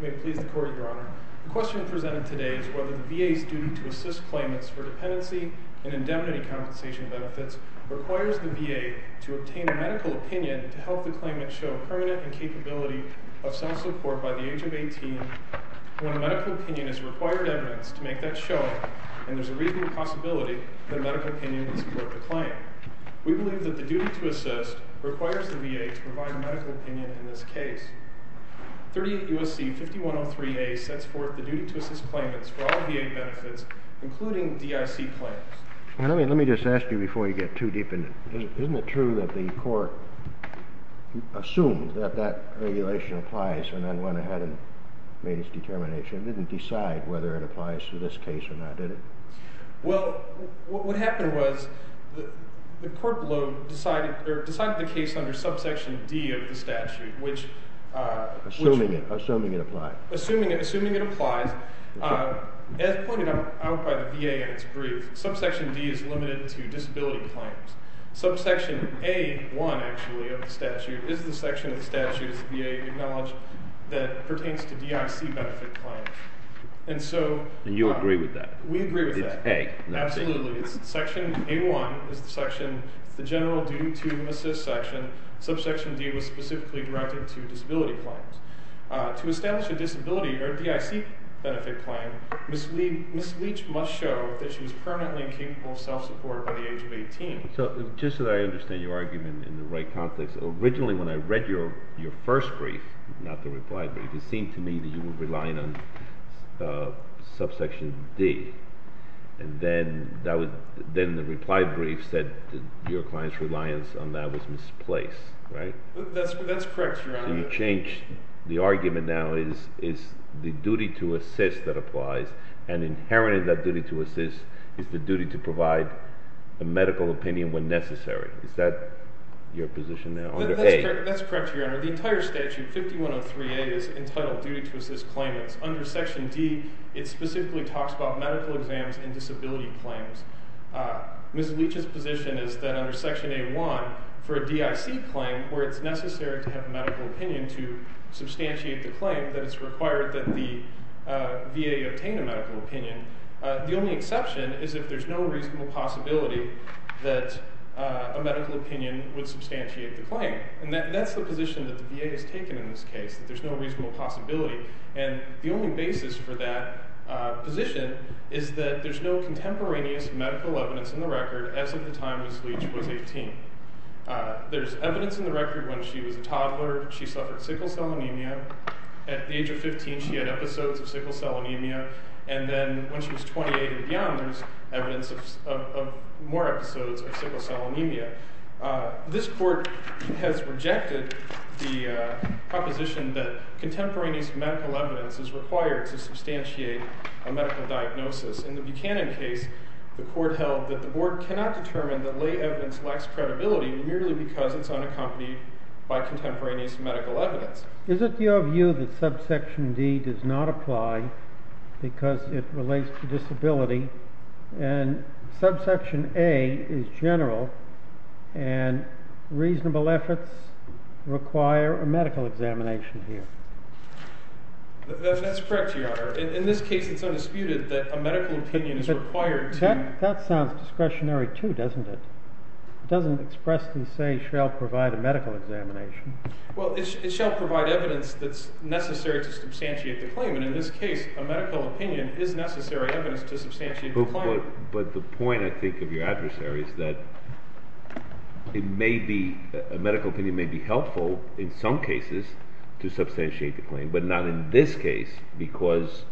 May it please the Court, Your Honor. The question presented today is whether the VA's duty to assist claimants for dependency and indemnity compensation benefits requires the VA to obtain a medical opinion to help the claimant show permanent incapability of self-support by the age of 18 when a medical opinion is required evidence to make that show, and there's a reasonable possibility that a medical opinion would support the claim. We believe that the duty to assist requires the VA to provide a medical opinion in this case. 38 U.S.C. 5103A sets forth the duty to assist claimants for all VA benefits, including DIC claims. Let me just ask you before you get too deep in it. Isn't it true that the Court assumed that that regulation applies and then went ahead and made its determination? It didn't decide whether it applies to this case or not, did it? Well, what happened was the Court below decided the case under subsection D of the statute, which... Assuming it applied. Assuming it applies. As pointed out by the VA in its brief, subsection D is limited to the statute as the VA acknowledged that pertains to DIC benefit claims. And so... And you agree with that? We agree with that. It's A, not C. Absolutely. Section A-1 is the section, the general duty to assist section. Subsection D was specifically directed to disability claims. To establish a disability or DIC benefit claim, Ms. Leach must show that she was permanently incapable of self-support by the age of 18. So just so that I understand your argument in the right context, originally when I read your first brief, not the reply brief, it seemed to me that you were relying on subsection D. And then the reply brief said your client's reliance on that was misplaced, right? That's correct, Your Honor. So you changed... The argument now is the duty to assist that applies. And inherent in that duty to assist is the under A. That's correct, Your Honor. The entire statute, 5103A, is entitled duty to assist claimants. Under section D, it specifically talks about medical exams and disability claims. Ms. Leach's position is that under section A-1, for a DIC claim, where it's necessary to have medical opinion to substantiate the claim, that it's required that the VA obtain a medical opinion, the only exception is if there's no reasonable possibility that a medical opinion would substantiate the claim. And that's the position that the VA has taken in this case, that there's no reasonable possibility. And the only basis for that position is that there's no contemporaneous medical evidence in the record as of the time Ms. Leach was 18. There's evidence in the record when she was a toddler, she suffered sickle cell anemia. At the age of 15, she had episodes of sickle cell anemia. And then when she was 28 and This court has rejected the proposition that contemporaneous medical evidence is required to substantiate a medical diagnosis. In the Buchanan case, the court held that the board cannot determine that lay evidence lacks credibility merely because it's unaccompanied by contemporaneous medical evidence. Is it your view that subsection D does not apply because it relates to disability? And reasonable efforts require a medical examination here? That's correct, Your Honor. In this case, it's undisputed that a medical opinion is required to That sounds discretionary too, doesn't it? It doesn't expressly say, shall provide a medical examination. Well, it shall provide evidence that's necessary to substantiate the claim. And in this case, a medical opinion is necessary evidence to substantiate the claim. But the point, I think, of your adversary is that it may be, a medical opinion may be helpful in some cases to substantiate the claim, but not in this case because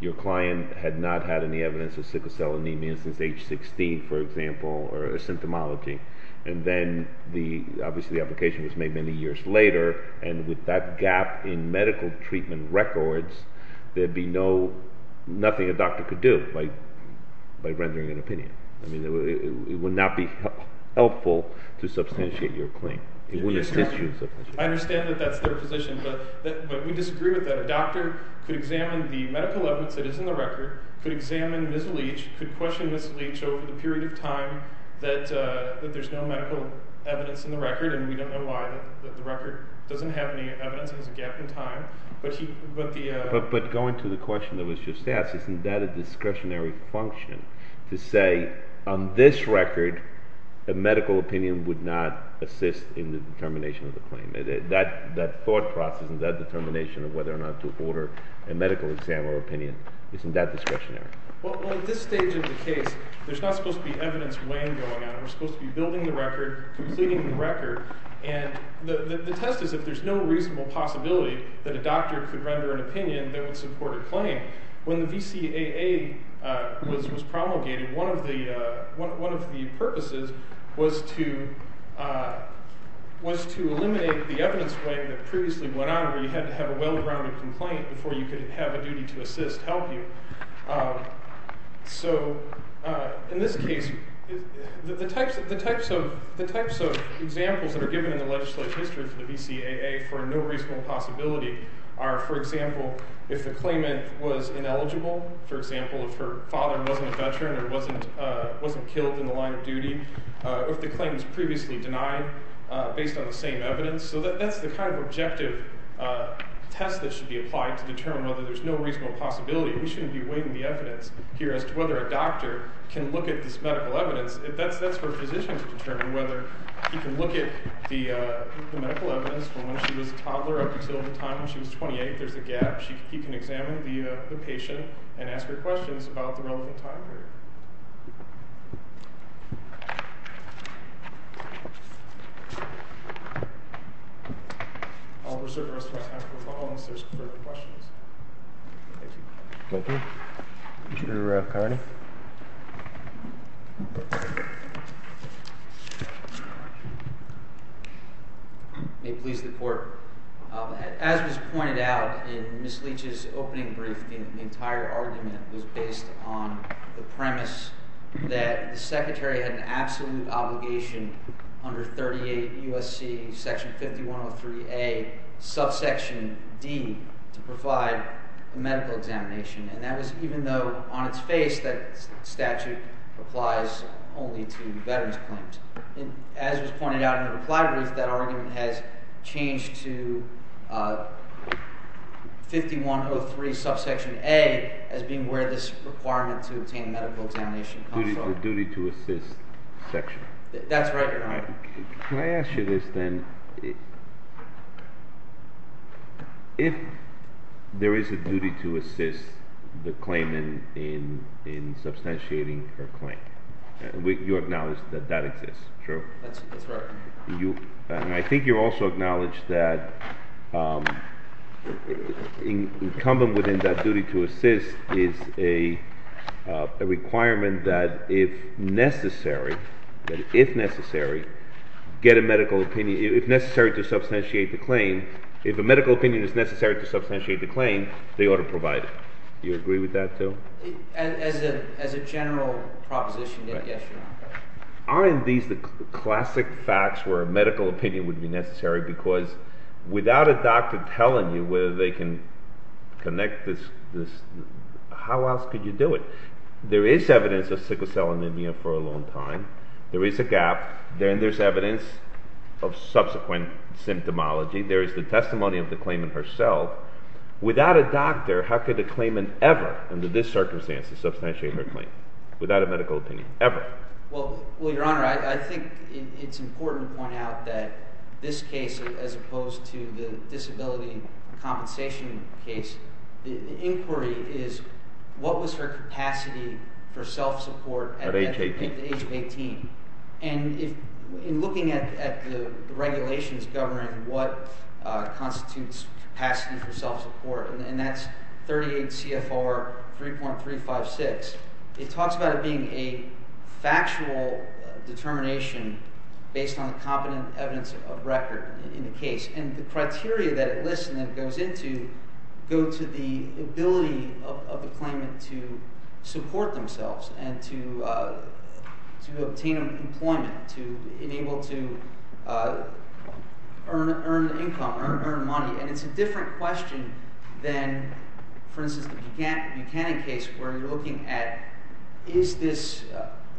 your client had not had any evidence of sickle cell anemia since age 16, for example, or a symptomology. And then the, obviously the application was made many years later. And with that gap in I mean, it would not be helpful to substantiate your claim. I understand that that's their position, but we disagree with that. A doctor could examine the medical evidence that is in the record, could examine misleach, could question misleach over the period of time that there's no medical evidence in the record. And we don't know why the record doesn't have any evidence, there's a gap in time. But going to the question that was just asked, isn't that a discretionary function to say on this record, a medical opinion would not assist in the determination of the claim? That thought process and that determination of whether or not to order a medical exam or opinion, isn't that discretionary? Well, at this stage of the case, there's not supposed to be evidence weighing going on. We're supposed to be building the record, completing the record, and the test is if there's no reasonable possibility that a doctor could render an opinion that would support a claim. When the VCAA was promulgated, one of the purposes was to eliminate the evidence weighing that previously went on where you had to have a well-rounded complaint before you could have a duty to assist, help you. So, in this case, the types of examples that are given in the legislative history for the VCAA for a no reasonable possibility are, for example, if the claimant was ineligible, for example, if her father wasn't a veteran or wasn't killed in the line of duty, if the claim was previously denied based on the same evidence. So that's the kind of objective test that should be applied to determine whether there's no reasonable possibility. We shouldn't be weighing the evidence here as to whether a doctor can look at this medical evidence. That's for a physician to determine whether he can look at the medical evidence from when she was a toddler up until the time when she was 28. There's a gap. He can examine the patient and ask her questions about the relevant time period. I'll reserve the rest of my time for questions. Thank you. Thank you. Mr. Carney. May it please the Court. As was pointed out in Ms. Leach's opening brief, the entire argument was based on the premise that the Secretary had an absolute obligation under 38 U.S.C. Section 5103A, subsection D, to provide a medical examination. And that was even though on its face that statute applies only to veterans' claims. As was pointed out in the reply brief, that argument has changed to 5103 subsection A as being where this requirement to obtain a medical examination comes from. The duty to assist section. That's right, Your Honor. Can I ask you this then? If there is a duty to assist the claimant in substantiating her claim, you acknowledge that that exists, true? That's right. And I think you also acknowledge that incumbent within that duty to assist is a requirement that if necessary, if necessary, get a medical opinion, if necessary to substantiate the claim, if a medical opinion is necessary to substantiate the claim, they ought to provide it. Do you agree with that, too? As a general proposition, yes, Your Honor. Aren't these the classic facts where a medical opinion would be necessary? Because without a doctor telling you whether they can connect this, how else could you do it? There is evidence of sickle cell anemia for a long time. There is a gap. Then there's evidence of subsequent symptomology. There is the testimony of the claimant herself. Without a doctor, how could a claimant ever, under this circumstance, substantiate her claim? Without a medical opinion, ever. Well, Your Honor, I think it's important to point out that this case, as opposed to the disability compensation case, the inquiry is what was her capacity for self-support at the age of 18? At the age of 18. And in looking at the regulations governing what constitutes capacity for self-support, and that's 38 C.F.R. 3.356, it talks about it being a factual determination based on competent evidence of record in the case. And the criteria that it lists and that it goes into go to the ability of the claimant to support themselves and to obtain employment, to be able to earn income, earn money. And it's a different question than, for instance, the Buchanan case, where you're looking at is this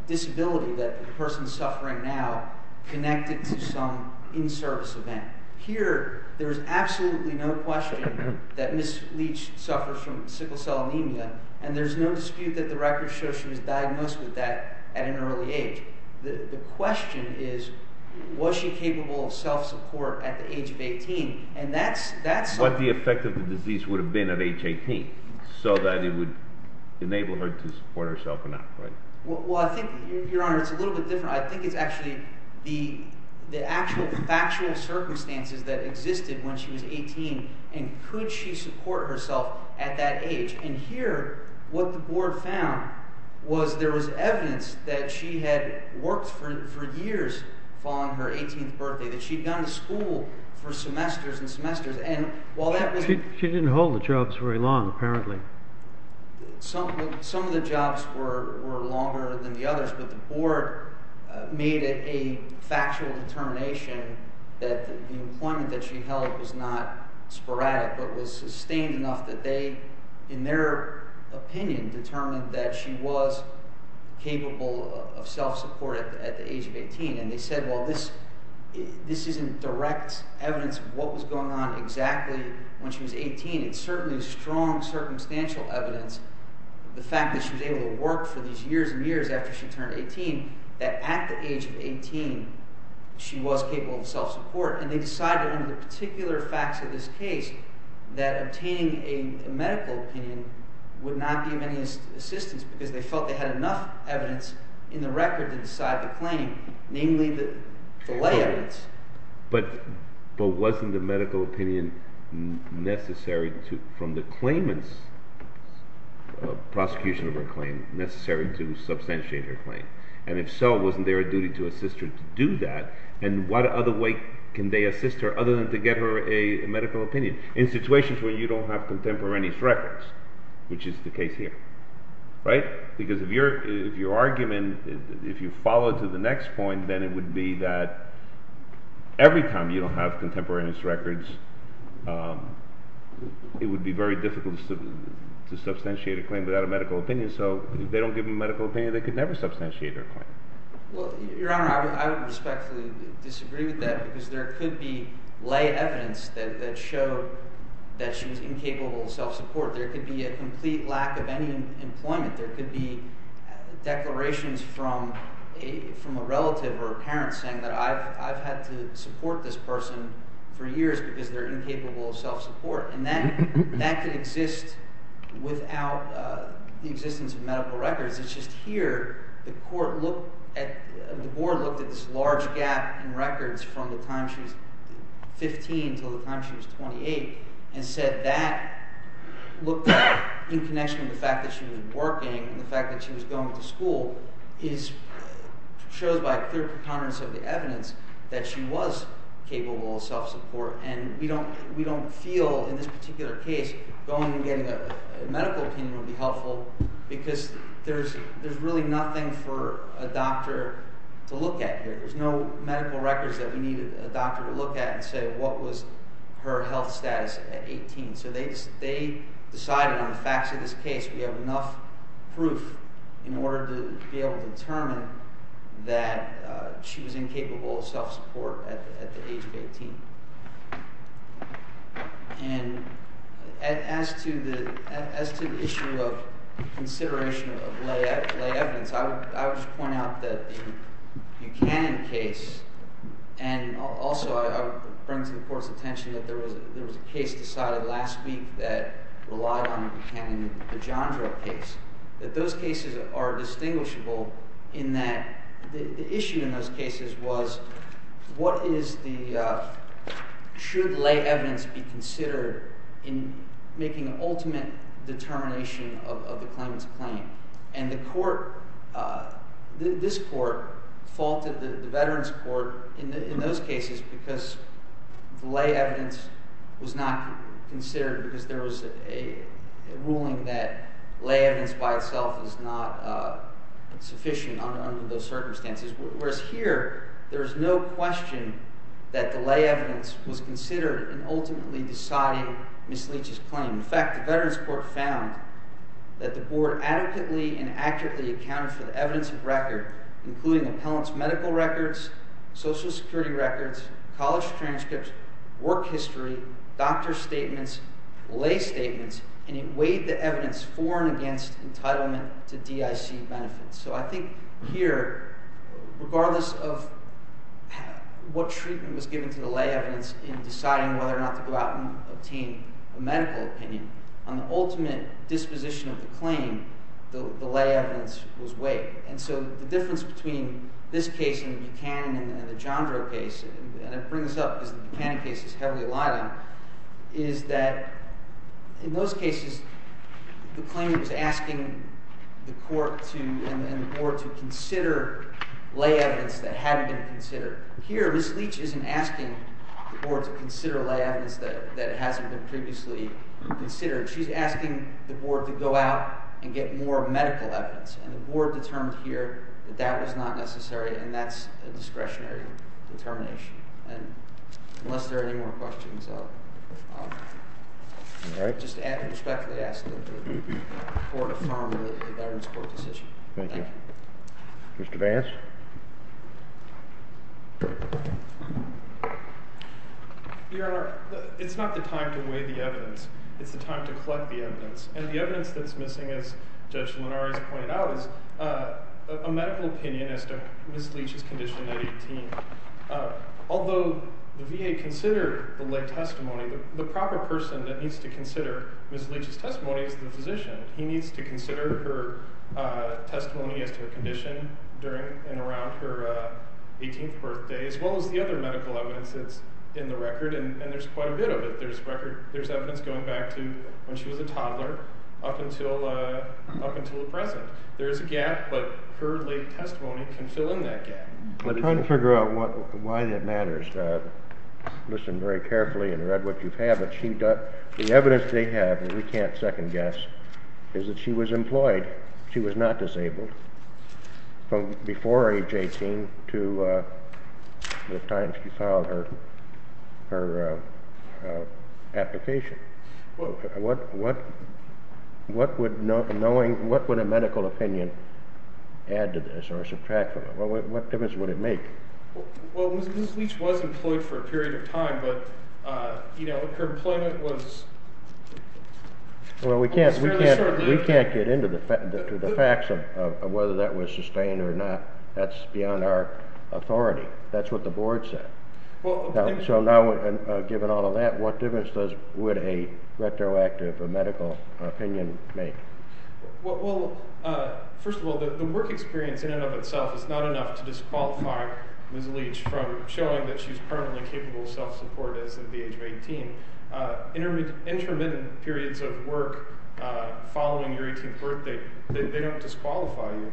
disability that the person is suffering now connected to some in-service event? Here, there is absolutely no question that Ms. Leach suffers from sickle cell anemia, and there's no dispute that the records show she was diagnosed with that at an early age. The question is, was she capable of self-support at the age of 18? And that's... What the effect of the disease would have been at age 18, so that it would enable her to support herself or not, right? Well, I think, Your Honor, it's a little bit different. I think it's actually the actual factual circumstances that existed when she was 18, and could she support herself at that There was evidence that she had worked for years following her 18th birthday, that she had gone to school for semesters and semesters, and while that was... She didn't hold the jobs very long, apparently. Some of the jobs were longer than the others, but the board made it a factual determination that the employment that she held was not sporadic, but was sustained enough that they, in their opinion, determined that she was capable of self-support at the age of 18. And they said, well, this isn't direct evidence of what was going on exactly when she was 18. It's certainly strong circumstantial evidence, the fact that she was able to work for these years and years after she turned 18, that at the age of 18, she was capable of self-support. And they decided under the particular facts of this case that obtaining a medical opinion would not be of any assistance because they felt they had enough evidence in the record to decide the claim, namely the lay evidence. But wasn't the medical opinion necessary from the claimant's prosecution of her claim necessary to substantiate her claim? And if so, wasn't there a duty to assist her to do that? And what other way can they assist her other than to get her a medical opinion in situations where you don't have contemporaneous records, which is the case here, right? Because if your argument, if you follow to the next point, then it would be that every time you don't have contemporaneous records, it would be very difficult to substantiate a claim without a medical opinion. So if they don't give them a medical opinion, they could never substantiate their claim. Well, Your Honor, I would respectfully disagree with that because there could be lay evidence that showed that she was incapable of self-support. There could be a complete lack of any employment. There could be declarations from a relative or a parent saying that I've had to support this person for years because they're incapable of self-support. And that could exist without the existence of medical records. It's just here, the court looked at, the board looked at this large gap in records from the time she was 15 until the time she was 28 and said that looked like, in connection with the fact that she was working and the fact that she was going to school, shows by clear concurrence of the evidence that she was capable of self-support. And we don't feel in this particular case going and getting a medical opinion would be helpful because there's really nothing for a doctor to look at here. There's no medical records that we need a doctor to look at and say what was her health status at 18. So they decided on the facts of this case we have enough proof in order to be able to determine that she was incapable of self-support at the age of 18. And as to the issue of consideration of lay evidence, I would point out that the Buchanan case, and also I would bring to the court's attention that there was a case decided last week that relied on a Buchanan-DeJandro case. That those cases are distinguishable in that the issue in those cases was what is the, should lay evidence be considered in making an ultimate determination of the claimant's claim. And the court, this court faulted the Veterans Court in those cases because lay evidence was not considered because there was a ruling that lay evidence by itself is not sufficient under those circumstances. Whereas here, there's no question that the lay evidence was considered in ultimately deciding Ms. Leach's claim. In fact, the Veterans Court found that the board adequately and accurately accounted for the evidence of record including the appellant's medical records, social security records, college transcripts, work history, doctor's statements, lay statements, and it weighed the evidence for and against entitlement to DIC benefits. So I think here, regardless of what treatment was given to the lay evidence in deciding whether or not to go out and obtain a medical opinion, on the ultimate disposition of the claim, the lay evidence was weighed. And so the difference between this case in Buchanan and the DeJandro case, and I bring this up because the Buchanan case is heavily relied on, is that in those cases, the claimant is asking the court and the board to consider lay evidence that hadn't been considered. Here, Ms. Leach isn't asking the board to consider lay evidence that hasn't been previously considered. She's asking the board to go out and get more medical evidence. And the board determined here that that was not necessary, and that's a discretionary determination. And unless there are any more questions, I'll just respectfully ask that the board affirm the Veterans Court decision. Thank you. Mr. Vance? Your Honor, it's not the time to weigh the evidence. It's the time to collect the evidence. And the evidence that's missing, as Judge Linares pointed out, is a medical opinion as to Ms. Leach's condition at 18. Although the VA considered the lay testimony, the proper person that needs to consider Ms. Leach's testimony is the physician. He needs to consider her testimony as to her condition during and around her 18th birthday, as well as the other medical evidence that's in the record, and there's quite a bit of it. There's evidence going back to when she was a toddler up until the present. There is a gap, but her lay testimony can fill in that gap. I'm trying to figure out why that matters. Listen very carefully and read what you have. The evidence they have, and we can't second-guess, is that she was employed. She was not disabled from before age 18 to the time she filed her application. What would a medical opinion add to this or subtract from it? What difference would it make? Ms. Leach was employed for a period of time, but her employment was fairly short-lived. We can't get into the facts of whether that was sustained or not. That's beyond our authority. That's what the board said. So now, given all of that, what difference would a retroactive medical opinion make? First of all, the work experience in and of itself is not enough to disqualify Ms. Leach from showing that she's permanently capable of self-support as of the age of 18. Intermittent periods of work following your 18th birthday, they don't disqualify you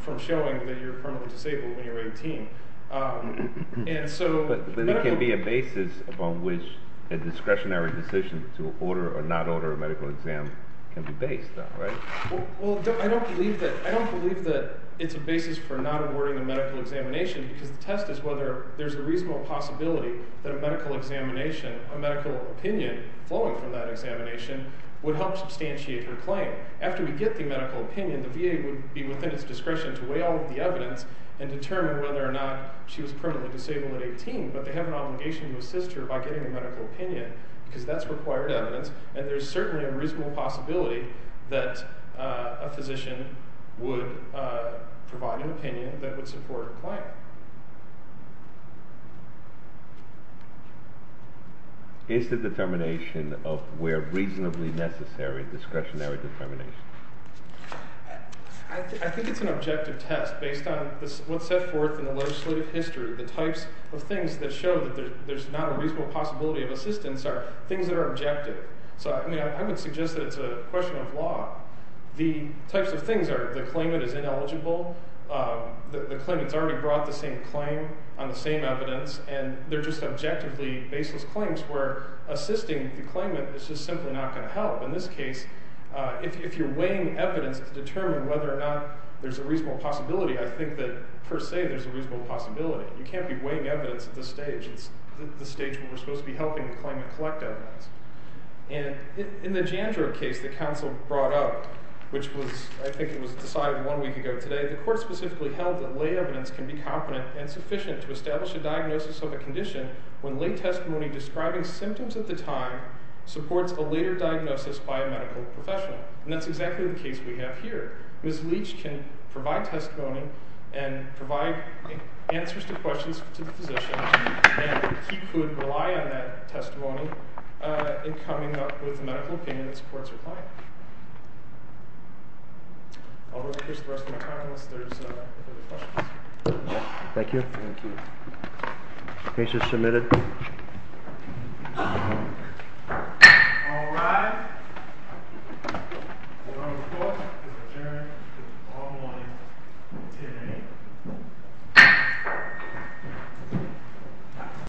from showing that you're permanently disabled when you're 18. But there can be a basis upon which a discretionary decision to order or not order a medical exam can be based on, right? I don't believe that it's a basis for not awarding a medical examination because the test is whether there's a reasonable possibility that a medical examination, a medical opinion flowing from that examination, would help substantiate her claim. After we get the medical opinion, the VA would be within its discretion to weigh all of the evidence and determine whether or not she was permanently disabled at 18, but they have an obligation to assist her by getting a medical opinion because that's required evidence, and there's certainly a reasonable possibility that a physician would provide an opinion that would support a claim. Is the determination of where reasonably necessary discretionary determination? I think it's an objective test. Based on what's set forth in the legislative history, the types of things that show that there's not a reasonable possibility of assistance are things that are objective. I would suggest that it's a question of law. The types of things are the claimant is ineligible, the claimant's already brought the same claim on the same evidence, and they're just objectively baseless claims where assisting the claimant is just simply not going to help. In this case, if you're weighing evidence to determine whether or not there's a reasonable possibility, I think that, per se, there's a reasonable possibility. You can't be weighing evidence at this stage. It's the stage where we're supposed to be helping the claimant collect evidence. And in the Jandro case that counsel brought up, which was, I think it was decided one week ago today, the court specifically held that lay evidence can be competent and sufficient to establish a diagnosis of a condition when lay testimony describing symptoms at the time supports a later diagnosis by a medical professional. And that's exactly the case we have here. Ms. Leach can provide testimony and provide answers to questions to the physician, and he could rely on that testimony in coming up with a medical opinion that supports her claim. I'll run through the rest of my time unless there's other questions. Thank you. The case is submitted. All rise. The court is adjourned.